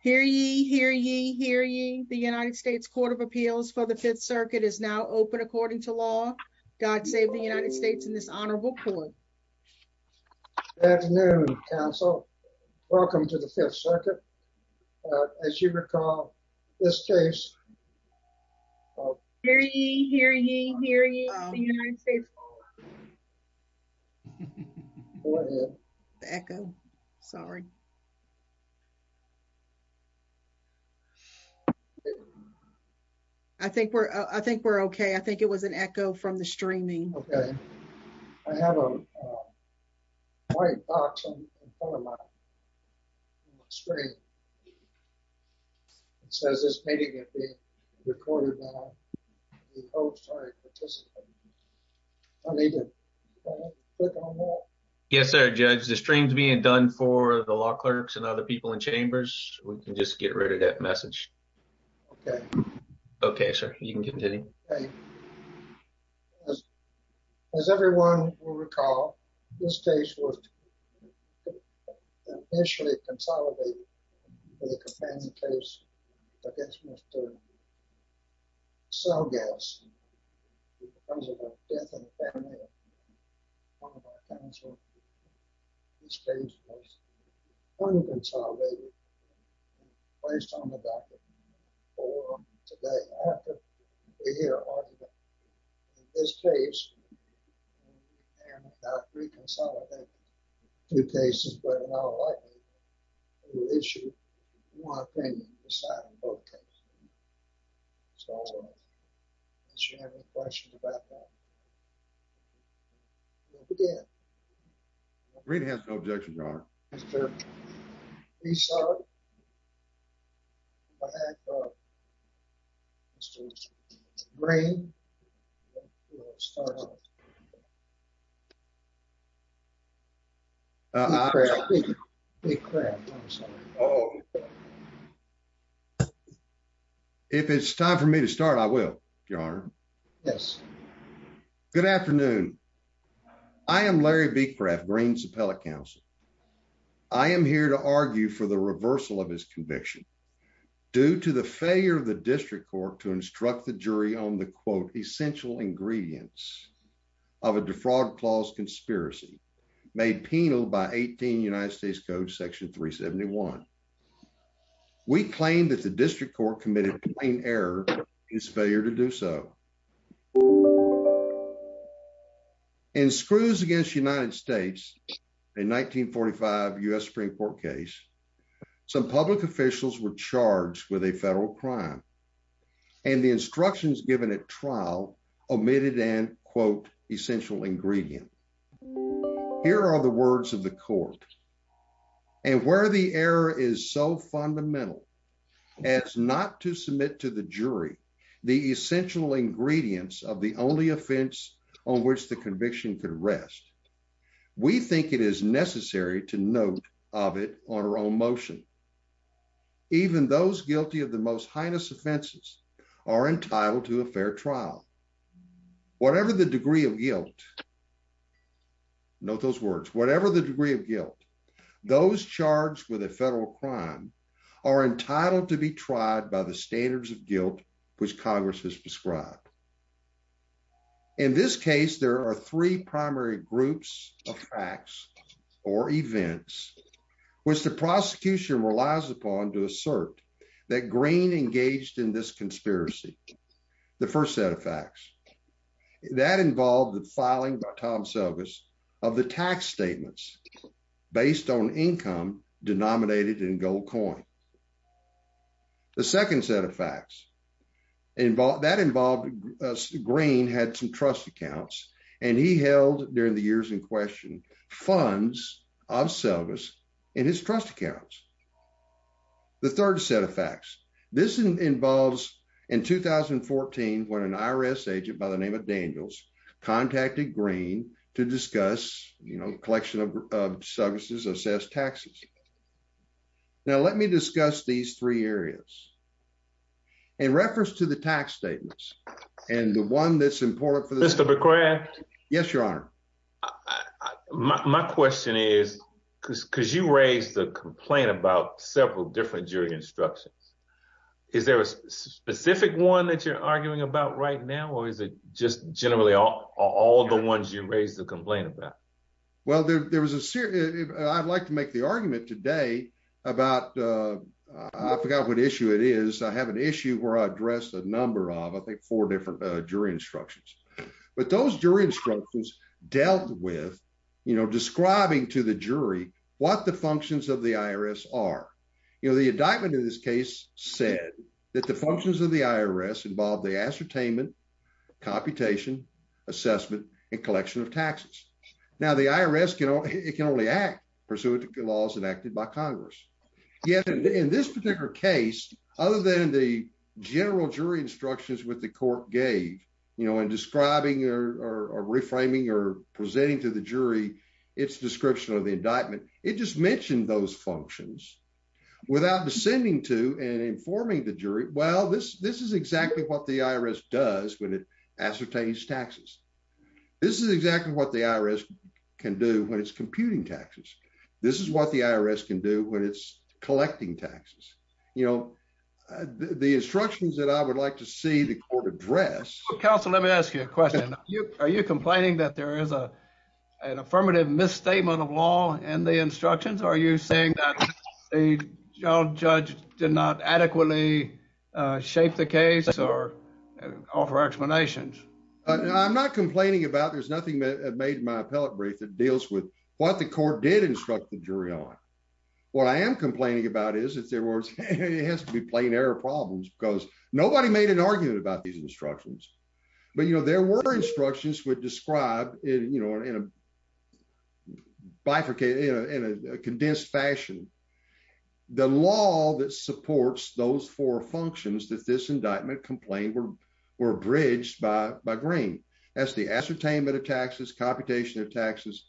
Hear ye, hear ye, hear ye. The United States Court of Appeals for the Fifth Circuit is now open according to law. God save the United States in this honorable court. Good afternoon, counsel. Welcome to the Fifth Circuit. As you recall, this case Hear ye, hear ye, hear ye. The United States Court of Appeals for the Fifth Circuit is now open according to law. Echo. Sorry. I think we're, I think we're okay. I think it was an echo from the streaming. Okay. I have a white box in front of my screen. It says this meeting is being recorded now. The hosts are participating. I need to click on that. Yes, sir, Judge. The stream's being done for the law clerks and other people in chambers. We can just get rid of that message. Okay. Okay, sir. You can continue. Okay. As everyone will recall, this case was initially consolidated with a companion case against Mr. Selgas. Because of a death in the family of one of our counselors, this case was unconsolidated and placed on the docket for today. After we hear argument in this case, and without re-consolidating two cases, but in our liking, we will issue one opinion deciding both cases. So, unless you have any questions about that, we'll begin. Green has no objections, Your Honor. Mr. Rees-Sog. I have Mr. Green. Big crab. Big crab. Oh. If it's time for me to start, I will, Your Honor. Yes. Good afternoon. I am Larry be craft greens appellate counsel. I am here to argue for the reversal of his conviction. Due to the failure of the district court to instruct the jury on the quote essential ingredients of a defraud clause conspiracy made penal by 18 United States Code section 371. We claim that the district court committed error is failure to do so. And screws against United States in 1945 US Supreme Court case. Some public officials were charged with a federal crime. And the instructions given at trial omitted and quote essential ingredient. Here are the words of the court. And where the error is so fundamental. It's not to submit to the jury, the essential ingredients of the only offense on which the conviction could rest. We think it is necessary to note of it on our own motion. Even those guilty of the most heinous offenses are entitled to a fair trial. Whatever the degree of guilt. Note those words, whatever the degree of guilt. Those charged with a federal crime are entitled to be tried by the standards of guilt, which Congress has prescribed. In this case, there are three primary groups of facts or events, which the prosecution relies upon to assert that green engaged in this conspiracy. The first set of facts that involved the filing by Tom service of the tax statements based on income denominated in gold coin. The second set of facts involved that involved green had some trust accounts, and he held during the years in question funds of service in his trust accounts. The third set of facts. This involves in 2014 when an IRS agent by the name of Daniels contacted green to discuss, you know, collection of services assess taxes. Now let me discuss these three areas. In reference to the tax statements, and the one that's important for this to be correct. Yes, Your Honor. My question is, because because you raised the complaint about several different jury instructions. Is there a specific one that you're arguing about right now or is it just generally all the ones you raise the complaint about. Well, there was a serious, I'd like to make the argument today about. I forgot what issue it is I have an issue where I address a number of I think four different jury instructions, but those jury instructions dealt with, you know, describing to the jury, what the functions of the IRS are, you know, the indictment in this case said that the functions of the IRS involved the ascertainment computation assessment and collection of taxes. Now the IRS can only act pursuant to the laws enacted by Congress. In this particular case, other than the general jury instructions with the court gave you know and describing or reframing or presenting to the jury. It's description of the indictment, it just mentioned those functions without descending to and informing the jury well this this is exactly what the IRS does when it ascertains taxes. This is exactly what the IRS can do when it's computing taxes. This is what the IRS can do when it's collecting taxes, you know, the instructions that I would like to see the court address. Council, let me ask you a question. Are you complaining that there is a, an affirmative misstatement of law and the instructions are you saying that a judge did not adequately shape the case or offer explanations. I'm not complaining about there's nothing that made my appellate brief that deals with what the court did instruct the jury on what I am complaining about is if there was, it has to be plain error problems because nobody made an argument about these instructions. But you know there were instructions would describe it you know in a bifurcated in a condensed fashion. The law that supports those four functions that this indictment complaint were were abridged by by green as the ascertainment of taxes computation of taxes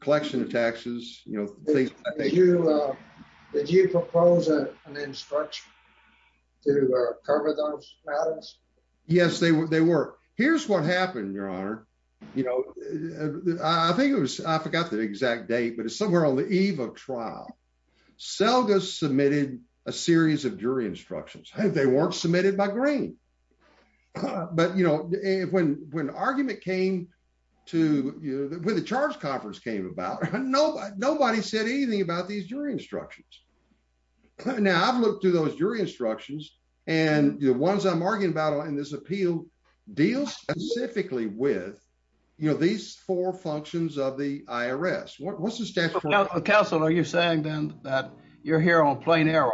collection of taxes, you know, they do. Did you propose an instruction to cover those matters. Yes, they were they were. Here's what happened, Your Honor. You know, I think it was, I forgot the exact date but it's somewhere on the eve of trial. Selma submitted a series of jury instructions have they weren't submitted by green. But you know, when, when argument came to you, when the charge conference came about, nobody, nobody said anything about these jury instructions. Now I've looked through those jury instructions, and the ones I'm arguing about on this appeal deal specifically with, you know, these four functions of the IRS what's the status of counsel, are you saying then that you're here on plain error.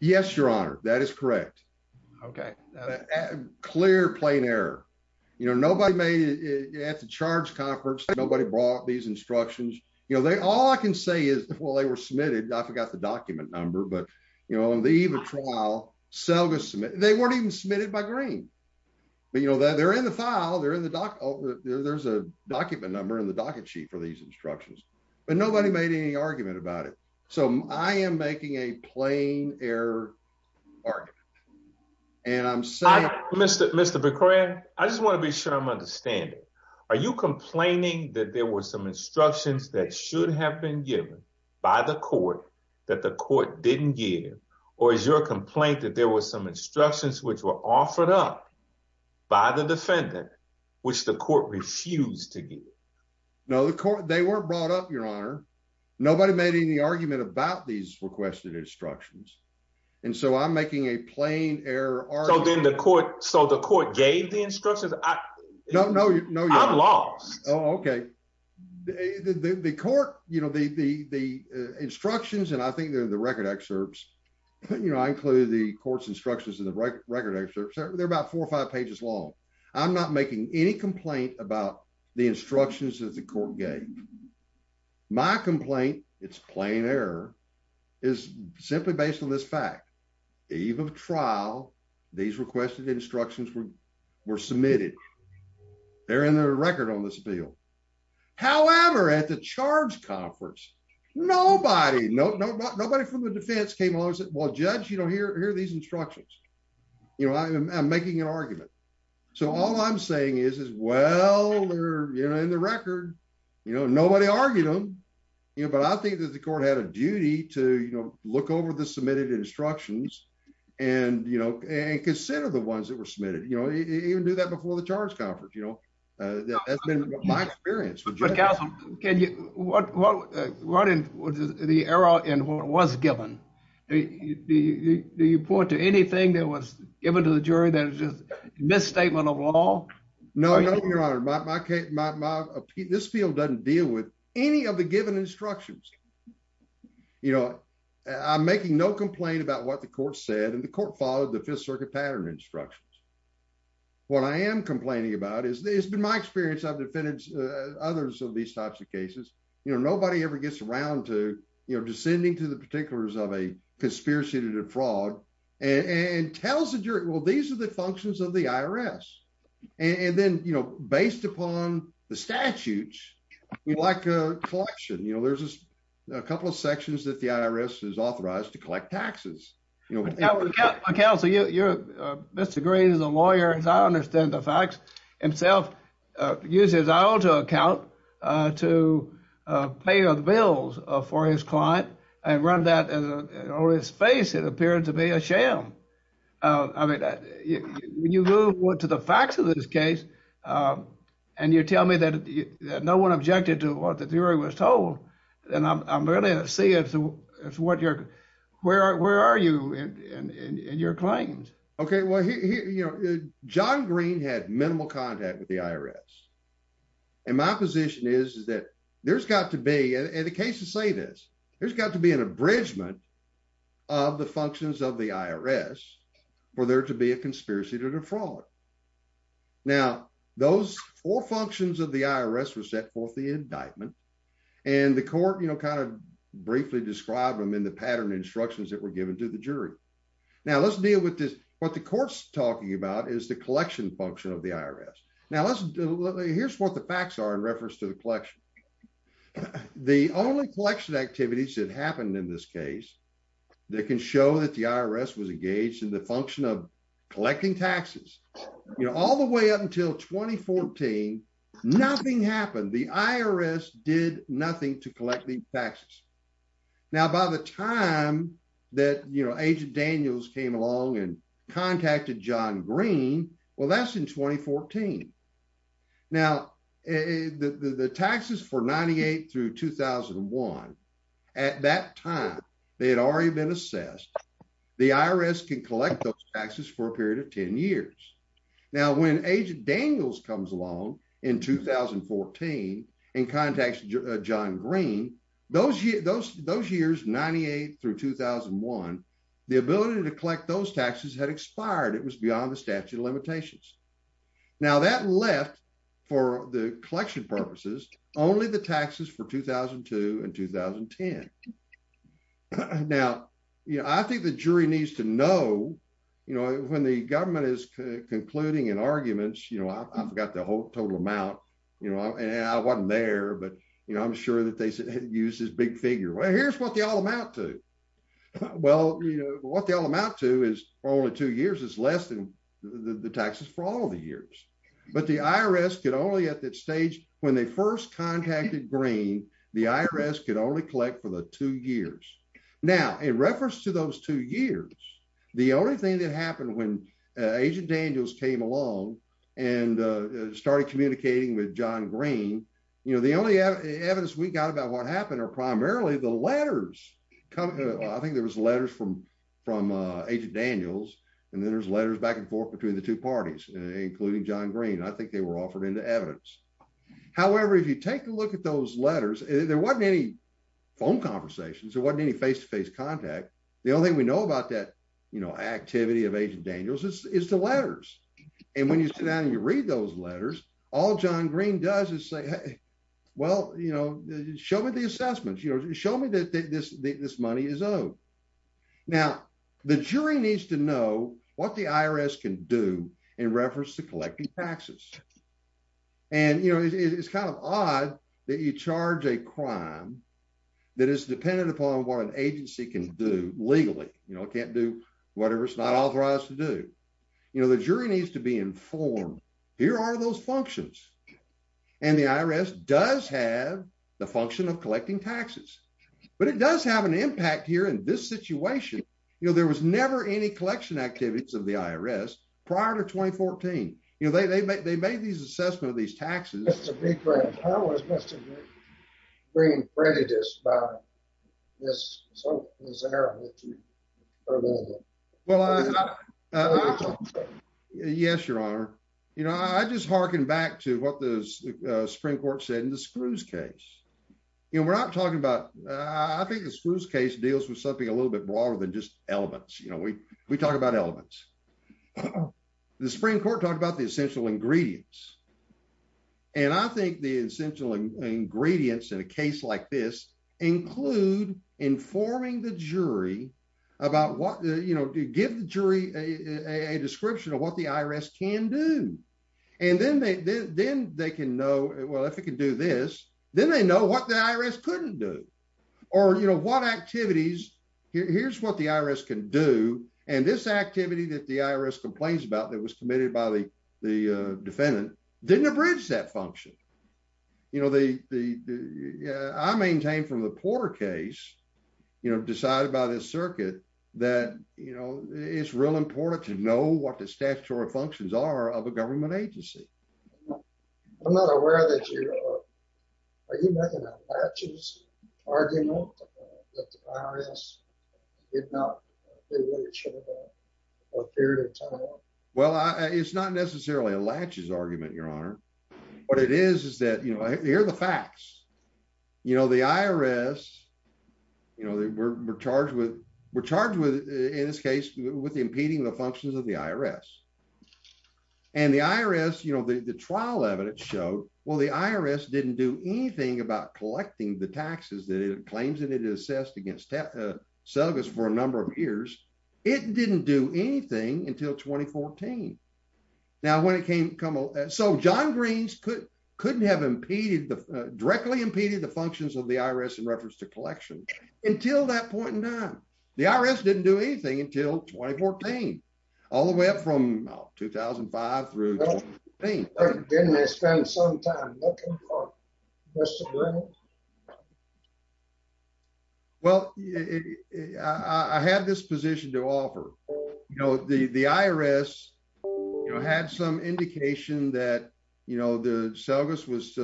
Yes, Your Honor, that is correct. Okay. Clear plain error. You know nobody made it at the charge conference, nobody brought these instructions, you know they all I can say is, well they were submitted I forgot the document number but you know on the eve of trial Selma submit they weren't even submitted by green. You know that they're in the file they're in the doc. There's a document number in the docket sheet for these instructions, but nobody made any argument about it. So, I am making a plain error. And I'm sorry, Mr. Mr McCray, I just want to be sure I'm understanding. Are you complaining that there was some instructions that should have been given by the court that the court didn't give, or is your complaint that there was some instructions which were offered up by the defendant, which the court refused to give. No, the court, they were brought up, Your Honor. Nobody made any argument about these requested instructions. And so I'm making a plain error. So then the court, so the court gave the instructions. No, no, no. Oh, okay. The court, you know the the the instructions and I think they're the record excerpts. You know I include the courts instructions in the record record excerpts are there about four or five pages long. I'm not making any complaint about the instructions of the court game. My complaint, it's plain error is simply based on this fact, even trial. These requested instructions were were submitted. They're in the record on this bill. However, at the charge conference. Nobody, nobody from the defense came along and said, Well, judge, you don't hear hear these instructions. You know, I'm making an argument. So all I'm saying is, is, well, they're, you know, in the record, you know, nobody argued them. You know, but I think that the court had a duty to, you know, look over the submitted instructions. And, you know, and consider the ones that were submitted, you know, even do that before the charge conference, you know, that's been my experience. Can you, what, what, what is the error in what was given the report to anything that was given to the jury that is just misstatement of law. No, no, your honor. This field doesn't deal with any of the given instructions. You know, I'm making no complaint about what the court said and the court followed the Fifth Circuit pattern instructions. What I am complaining about is there's been my experience I've defended others of these types of cases, you know, nobody ever gets around to, you know, descending to the particulars of a conspiracy to defraud and tells the jury. Well, these are the functions of the IRS. And then, you know, based upon the statutes, like a collection you know there's a couple of sections that the IRS is authorized to collect taxes. Counselor, you're, Mr. Green is a lawyer, as I understand the facts, himself uses his auto account to pay the bills for his client and run that on his face, it appeared to be a sham. I mean, when you go to the facts of this case. And you tell me that no one objected to what the jury was told. And I'm ready to see if what you're, where are you in your claims. Okay, well, you know, john green had minimal contact with the IRS. And my position is that there's got to be a case to say this, there's got to be an abridgment of the functions of the IRS, where there to be a conspiracy to defraud. Now, those four functions of the IRS were set forth the indictment and the court you know kind of briefly described them in the pattern instructions that were given to the jury. Now let's deal with this, what the courts talking about is the collection function of the IRS. Now let's do. Here's what the facts are in reference to the collection. The only collection activities that happened in this case, that can show that the IRS was engaged in the function of collecting taxes, you know, all the way up until 2014 nothing happened the IRS did nothing to collect the taxes. Now by the time that you know agent Daniels came along and contacted john green. Well that's in 2014. Now, the taxes for 98 through 2001. At that time, they had already been assessed the IRS can collect those taxes for a period of 10 years. Now when agent Daniels comes along in 2014 and contacts john green those years those those years 98 through 2001, the ability to collect those taxes had expired it was beyond the statute of limitations. Now that left for the collection purposes, only the taxes for 2002 and 2010. Now, you know, I think the jury needs to know, you know, when the government is concluding and arguments you know I've got the whole total amount, you know, and I wasn't there but you know I'm sure that they said, use this big figure well here's what Well, you know what they all amount to is only two years is less than the taxes for all the years, but the IRS could only at that stage when they first contacted green, the IRS could only collect for the two years. Now, in reference to those two years. The only thing that happened when agent Daniels came along and started communicating with john green, you know, the only evidence we got about what happened or primarily the letters. I think there was letters from from agent Daniels, and then there's letters back and forth between the two parties, including john green I think they were offered into evidence. However, if you take a look at those letters, there wasn't any phone conversations or what any face to face contact. The only thing we know about that, you know, activity of agent Daniels is the letters. And when you sit down and you read those letters, all john green does is say, well, you know, show me the assessments, you know, show me that this, this money is owed. Now, the jury needs to know what the IRS can do in reference to collecting taxes. And, you know, it's kind of odd that you charge a crime that is dependent upon what an agency can do legally, you know, can't do whatever it's not authorized to do, you know, the jury needs to be informed. Here are those functions. And the IRS does have the function of collecting taxes, but it does have an impact here in this situation. You know there was never any collection activities of the IRS prior to 2014, you know they make they made these assessment of these taxes. Mr. Green credit is this. Yes, Your Honor. You know I just hearken back to what those Supreme Court said in the screws case. You know we're not talking about, I think the screws case deals with something a little bit broader than just elements you know we we talked about elements. The Supreme Court talked about the essential ingredients. And I think the essential ingredients in a case like this include informing the jury about what you know to give the jury a description of what the IRS can do. And then they then they can know, well if it can do this, then they know what the IRS couldn't do, or you know what activities. Here's what the IRS can do, and this activity that the IRS complains about that was committed by the, the defendant didn't abridge that function. You know the, the, I maintain from the Porter case, you know, decided by this circuit that, you know, it's real important to know what the statutory functions are of a government agency. I'm not aware that you are. Are you making a latches argument that the IRS did not do what it should have done. Well, it's not necessarily a latches argument, Your Honor. What it is is that you hear the facts. You know the IRS. You know they were charged with were charged with, in this case, with impeding the functions of the IRS. And the IRS you know the the trial evidence showed, well the IRS didn't do anything about collecting the taxes that it claims that it is assessed against sell this for a number of years. It didn't do anything until 2014. Now when it came, come on, so john greens could couldn't have impeded the directly impeded the functions of the IRS in reference to collection, until that point in time, the IRS didn't do anything until 2014, all the way up from 2005 through. Didn't they spend some time. Well, I have this position to offer. You know the the IRS had some indication that, you know, the service was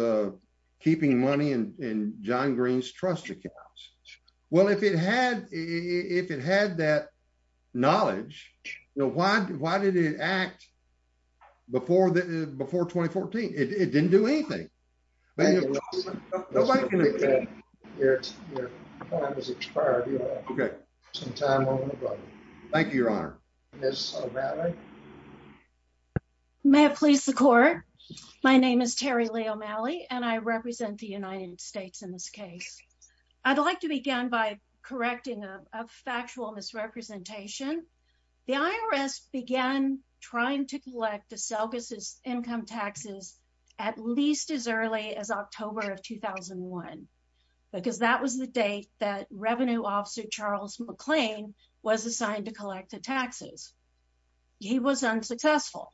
keeping money and john greens trust accounts. Well if it had, if it had that knowledge. Why, why did it act. Before the before 2014, it didn't do anything. Nobody. Okay. Thank you, Your Honor. Yes. May I please the court. My name is Terry Leo Malley and I represent the United States in this case, I'd like to begin by correcting a factual misrepresentation. In 2014, the IRS began trying to collect the circuses income taxes, at least as early as October of 2001, because that was the date that revenue officer Charles McLean was assigned to collect the taxes. He was unsuccessful.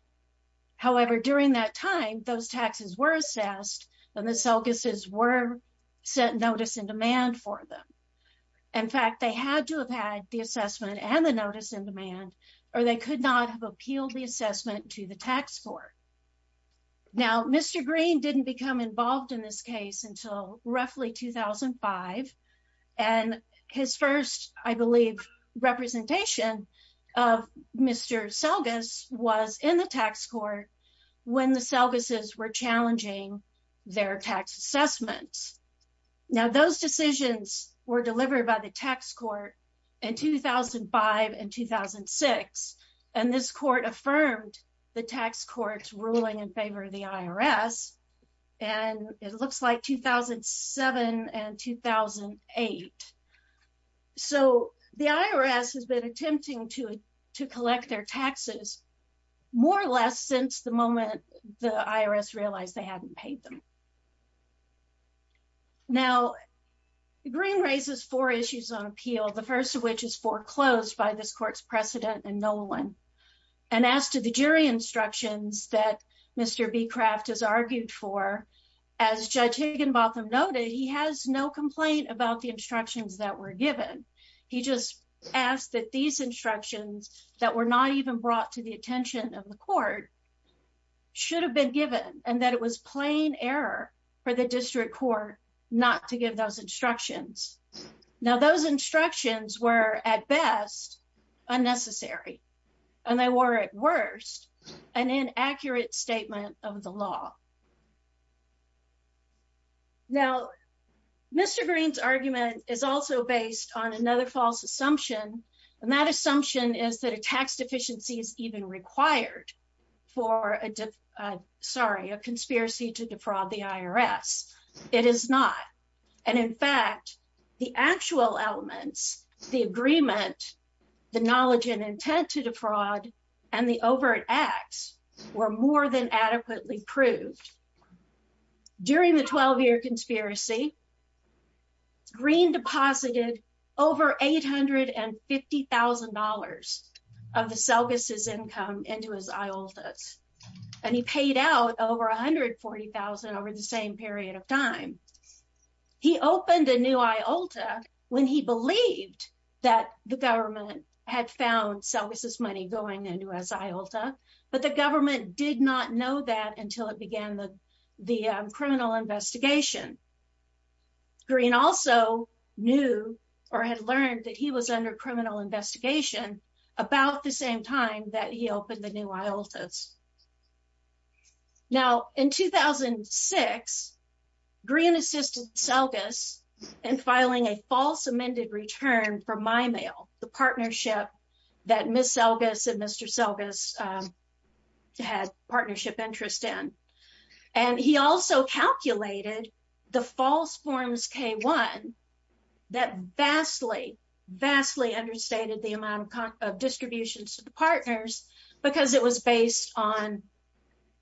However, during that time, those taxes were assessed, and the circuses were set notice in demand for them. In fact, they had to have had the assessment and the notice in demand, or they could not have appealed the assessment to the tax court. Now, Mr. Green didn't become involved in this case until roughly 2005, and his first, I believe, representation of Mr selgus was in the tax court. When the circuses were challenging their tax assessments. Now those decisions were delivered by the tax court in 2005 and 2006, and this court affirmed the tax courts ruling in favor of the IRS. And it looks like 2007 and 2008. So, the IRS has been attempting to to collect their taxes, more or less since the moment, the IRS realized they hadn't paid them. Now, the green raises four issues on appeal, the first of which is foreclosed by this court's precedent and no one. And as to the jury instructions that Mr be craft has argued for, as judge Higginbotham noted he has no complaint about the instructions that were given. He just asked that these instructions that were not even brought to the attention of the court should have been given, and that it was plain error for the district court, not to give those instructions. Now those instructions were at best, unnecessary. And they were at worst, an inaccurate statement of the law. Now, Mr. Green's argument is also based on another false assumption, and that assumption is that a tax deficiency is even required for a, sorry, a conspiracy to defraud the IRS. It is not. And in fact, the actual elements, the agreement, the knowledge and intent to defraud, and the overt acts were more than adequately proved. During the 12-year conspiracy, Green deposited over $850,000 of the Selgas' income into his ayotas, and he paid out over $140,000 over the same period of time. He opened a new ayota when he believed that the government had found Selgas' money going into his ayota, but the government did not know that until it began the criminal investigation. Green also knew, or had learned, that he was under criminal investigation about the same time that he opened the new ayotas. Now, in 2006, Green assisted Selgas in filing a false amended return for MyMail, the partnership that Ms. Selgas and Mr. Selgas had partnership interest in. And he also calculated the false forms K-1 that vastly, vastly understated the amount of distributions to the partners because it was based on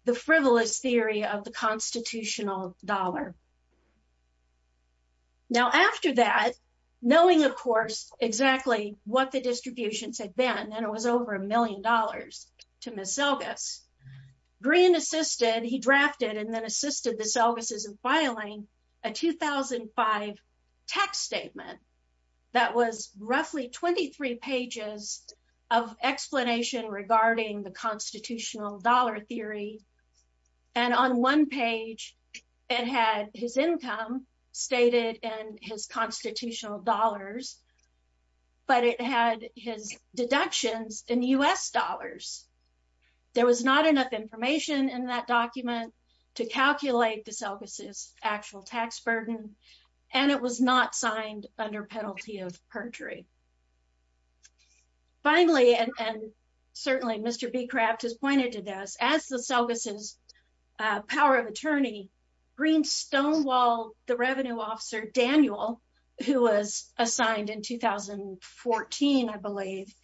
the frivolous theory of the constitutional dollar. Now, after that, knowing, of course, exactly what the distributions had been, and it was over a million dollars to Ms. Selgas, Green assisted, he drafted and then assisted the Selgas' in filing a 2005 text statement that was roughly 23 pages of explanation regarding the constitutional dollar theory. And on one page, it had his income stated and his constitutional dollars, but it had his deductions in U.S. dollars. There was not enough information in that document to calculate the Selgas' actual tax burden, and it was not signed under penalty of perjury. Finally, and certainly Mr. Becraft has pointed to this, as the Selgas' power of attorney, Green stonewalled the revenue officer, Daniel, who was assigned in 2014, I believe,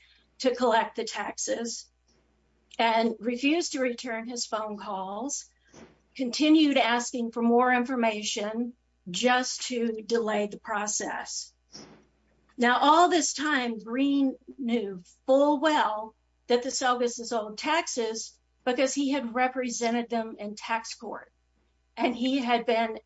to collect the taxes and refused to return his phone calls, continued asking for more information just to delay the process. Now, all this time, Green knew full well that the Selgas' owed taxes because he had represented them in tax court, and he had been,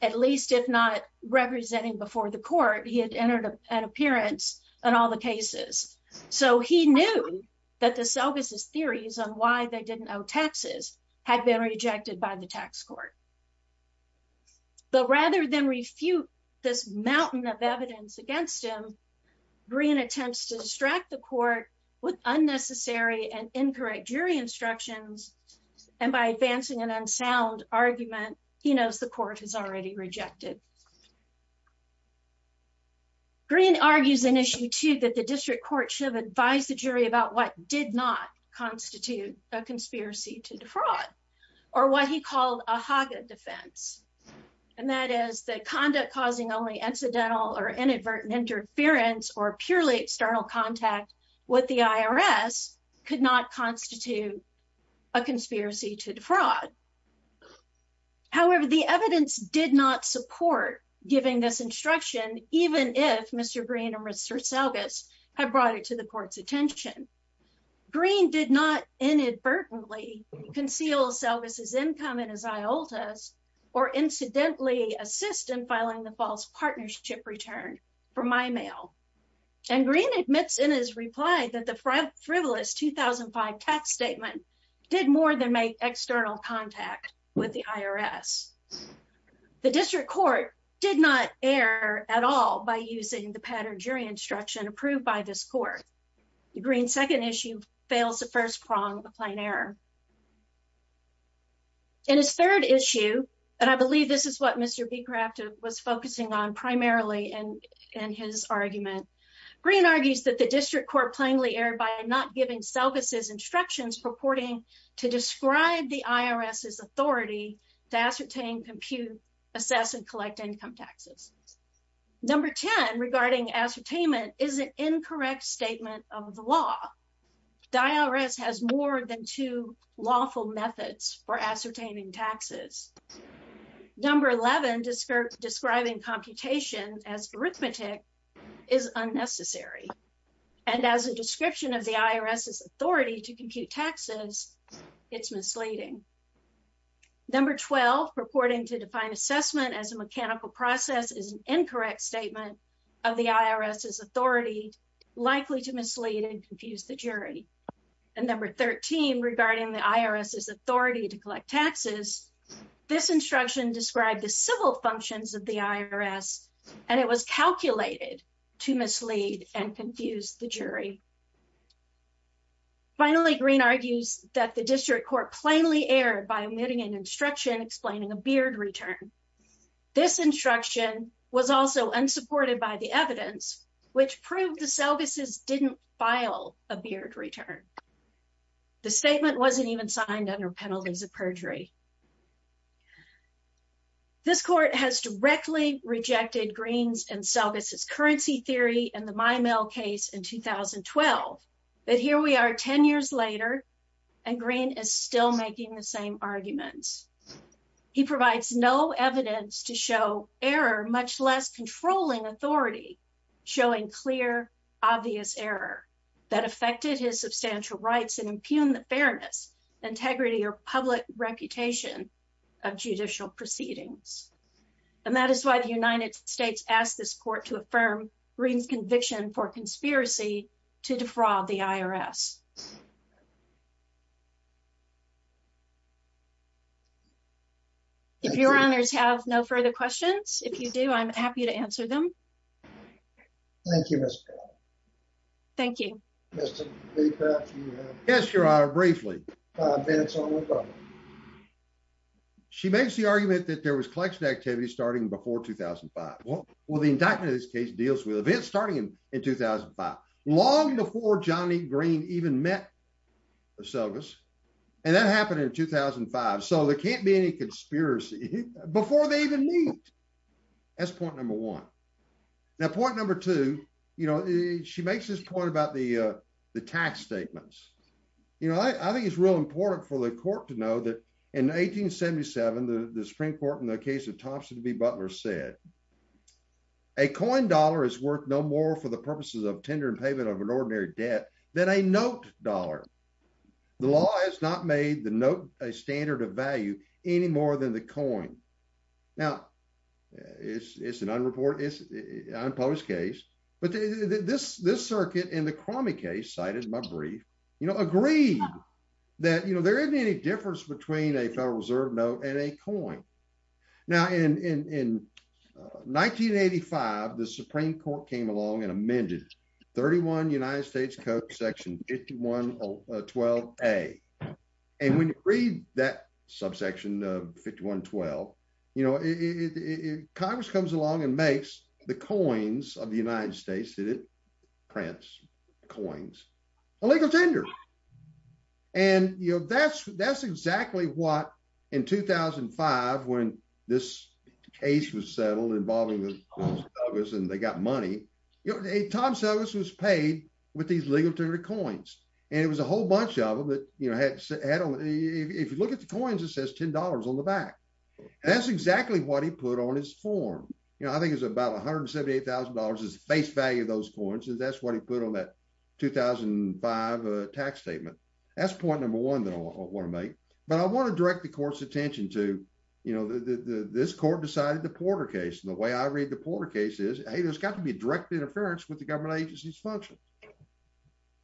at least if not representing before the court, he had entered an appearance in all the cases. So he knew that the Selgas' theories on why they didn't owe taxes had been rejected by the tax court. But rather than refute this mountain of evidence against him, Green attempts to distract the court with unnecessary and incorrect jury instructions, and by advancing an unsound argument, he knows the court has already rejected. Green argues in issue two that the district court should have advised the jury about what did not constitute a conspiracy to defraud, or what he called a Haga defense. And that is that conduct causing only incidental or inadvertent interference or purely external contact with the IRS could not constitute a conspiracy to defraud. However, the evidence did not support giving this instruction, even if Mr. Green and Mr. Selgas had brought it to the court's attention. Green did not inadvertently conceal Selgas' income in his IOTAS, or incidentally assist in filing the false partnership return for my mail. And Green admits in his reply that the frivolous 2005 tax statement did more than make external contact with the IRS. The district court did not err at all by using the pattern jury instruction approved by this court. Green's second issue fails the first prong of plain error. In his third issue, and I believe this is what Mr. Becraft was focusing on primarily in his argument, Green argues that the district court plainly erred by not giving Selgas' instructions purporting to describe the IRS's authority to ascertain, compute, assess, and collect income taxes. Number 10 regarding ascertainment is an incorrect statement of the law. The IRS has more than two lawful methods for ascertaining taxes. Number 11 describing computation as arithmetic is unnecessary. And as a description of the IRS's authority to compute taxes, it's misleading. Number 12 purporting to define assessment as a mechanical process is an incorrect statement of the IRS's authority, likely to mislead and confuse the jury. And number 13 regarding the IRS's authority to collect taxes, this instruction described the civil functions of the IRS, and it was calculated to mislead and confuse the jury. Finally, Green argues that the district court plainly erred by omitting an instruction explaining a beard return. This instruction was also unsupported by the evidence, which proved the Selgas' didn't file a beard return. The statement wasn't even signed under penalties of perjury. This court has directly rejected Green's and Selgas' currency theory and the MyMail case in 2012. But here we are 10 years later, and Green is still making the same arguments. He provides no evidence to show error, much less controlling authority, showing clear, obvious error that affected his substantial rights and impugned the fairness, integrity, or public reputation of judicial proceedings. And that is why the United States asked this court to affirm Green's conviction for conspiracy to defraud the IRS. If your honors have no further questions, if you do, I'm happy to answer them. Thank you. Thank you. Yes, your honor, briefly. She makes the argument that there was collection activity starting before 2005. Well, the indictment of this case deals with events starting in 2005, long before Johnny Green even met Selgas. And that happened in 2005. So there can't be any conspiracy before they even meet. That's point number one. Now, point number two, you know, she makes this point about the tax statements. You know, I think it's real important for the court to know that in 1877, the Supreme Court in the case of Thompson v. Butler said, a coin dollar is worth no more for the purposes of tender and payment of an ordinary debt than a note dollar. The law has not made the note a standard of value any more than the coin. Now, it's an unreported, unpublished case, but this circuit in the Cromie case cited in my brief, you know, agreed that, you know, there isn't any difference between a Federal Reserve note and a coin. Now, in 1985, the Supreme Court came along and amended 31 United States Code section 5112A. And when you read that subsection 5112, you know, Congress comes along and makes the coins of the United States that it prints, coins, a legal tender. And, you know, that's that's exactly what in 2005, when this case was settled involving the Congress and they got money, a time service was paid with these legal tender coins. And it was a whole bunch of them that, you know, had had only if you look at the coins, it says $10 on the back. That's exactly what he put on his form. You know, I think it's about $178,000 is the face value of those coins. And that's what he put on that 2005 tax statement. That's point number one that I want to make. But I want to direct the court's attention to, you know, this court decided the Porter case. And the way I read the Porter case is, hey, there's got to be a direct interference with the government agency's function.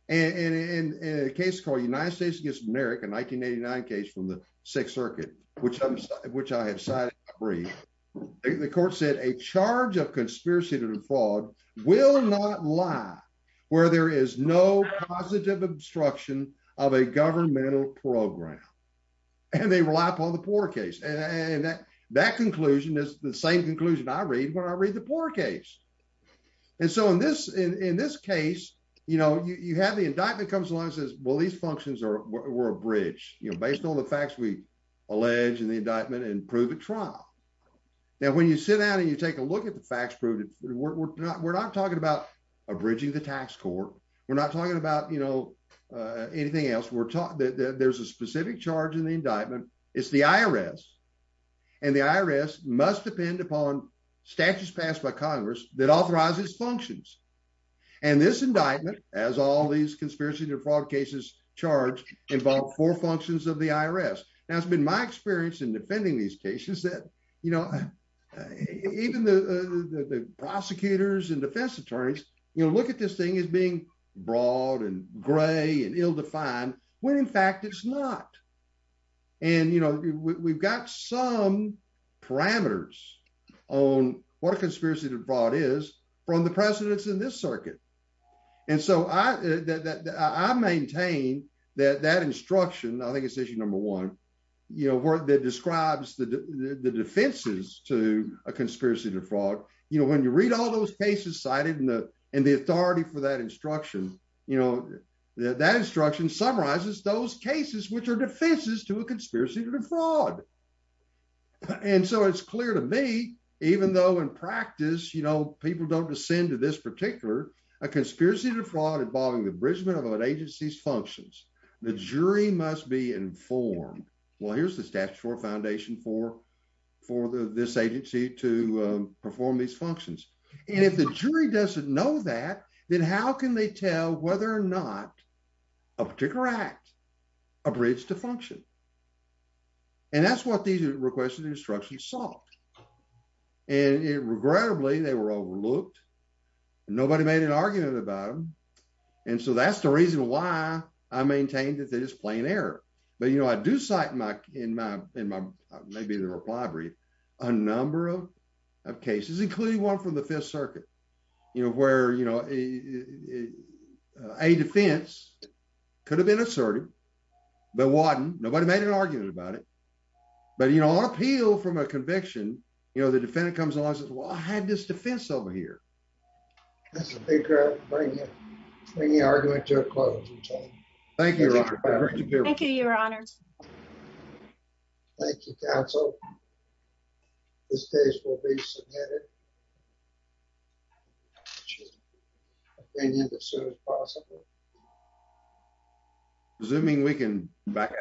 And in a case called United States against America, 1989 case from the Sixth Circuit, which I have cited in my brief, the court said a charge of conspiracy to defraud will not lie where there is no positive obstruction of a governmental program. And they rely upon the Porter case. And that conclusion is the same conclusion I read when I read the Porter case. And so in this in this case, you know, you have the indictment comes along and says, well, these functions are we're a bridge, you know, based on the facts we allege in the indictment and prove at trial. Now, when you sit down and you take a look at the facts proved, we're not we're not talking about abridging the tax court. We're not talking about, you know, anything else. We're taught that there's a specific charge in the indictment. It's the IRS. And the IRS must depend upon statutes passed by Congress that authorizes functions. And this indictment, as all these conspiracies and fraud cases charged involve four functions of the IRS. Now, it's been my experience in defending these cases that, you know, even the prosecutors and defense attorneys, you know, look at this thing as being broad and gray and ill-defined, when in fact it's not. And, you know, we've got some parameters on what a conspiracy to fraud is from the precedence in this circuit. And so I maintain that that instruction, I think it's issue number one, you know, where that describes the defenses to a conspiracy to fraud. You know, when you read all those cases cited and the authority for that instruction, you know, that instruction summarizes those cases which are defenses to a conspiracy to fraud. And so it's clear to me, even though in practice, you know, people don't descend to this particular, a conspiracy to fraud involving the abridgment of an agency's functions. The jury must be informed. Well, here's the statutory foundation for this agency to perform these functions. And if the jury doesn't know that, then how can they tell whether or not a particular act abridged to function? And that's what these requests and instructions sought. And regrettably, they were overlooked. Nobody made an argument about them. And so that's the reason why I maintained that it is plain error. But, you know, I do cite in my reply brief a number of cases, including one from the Fifth Circuit, you know, where, you know, a defense could have been assertive, but wasn't. Nobody made an argument about it. But, you know, on appeal from a conviction, you know, the defendant comes along and says, well, I had this defense over here. That's a big argument to a close, McCain. Thank you, Your Honor. Thank you, Your Honor. Thank you, counsel. This case will be submitted to opinion as soon as possible. Assuming we can back out.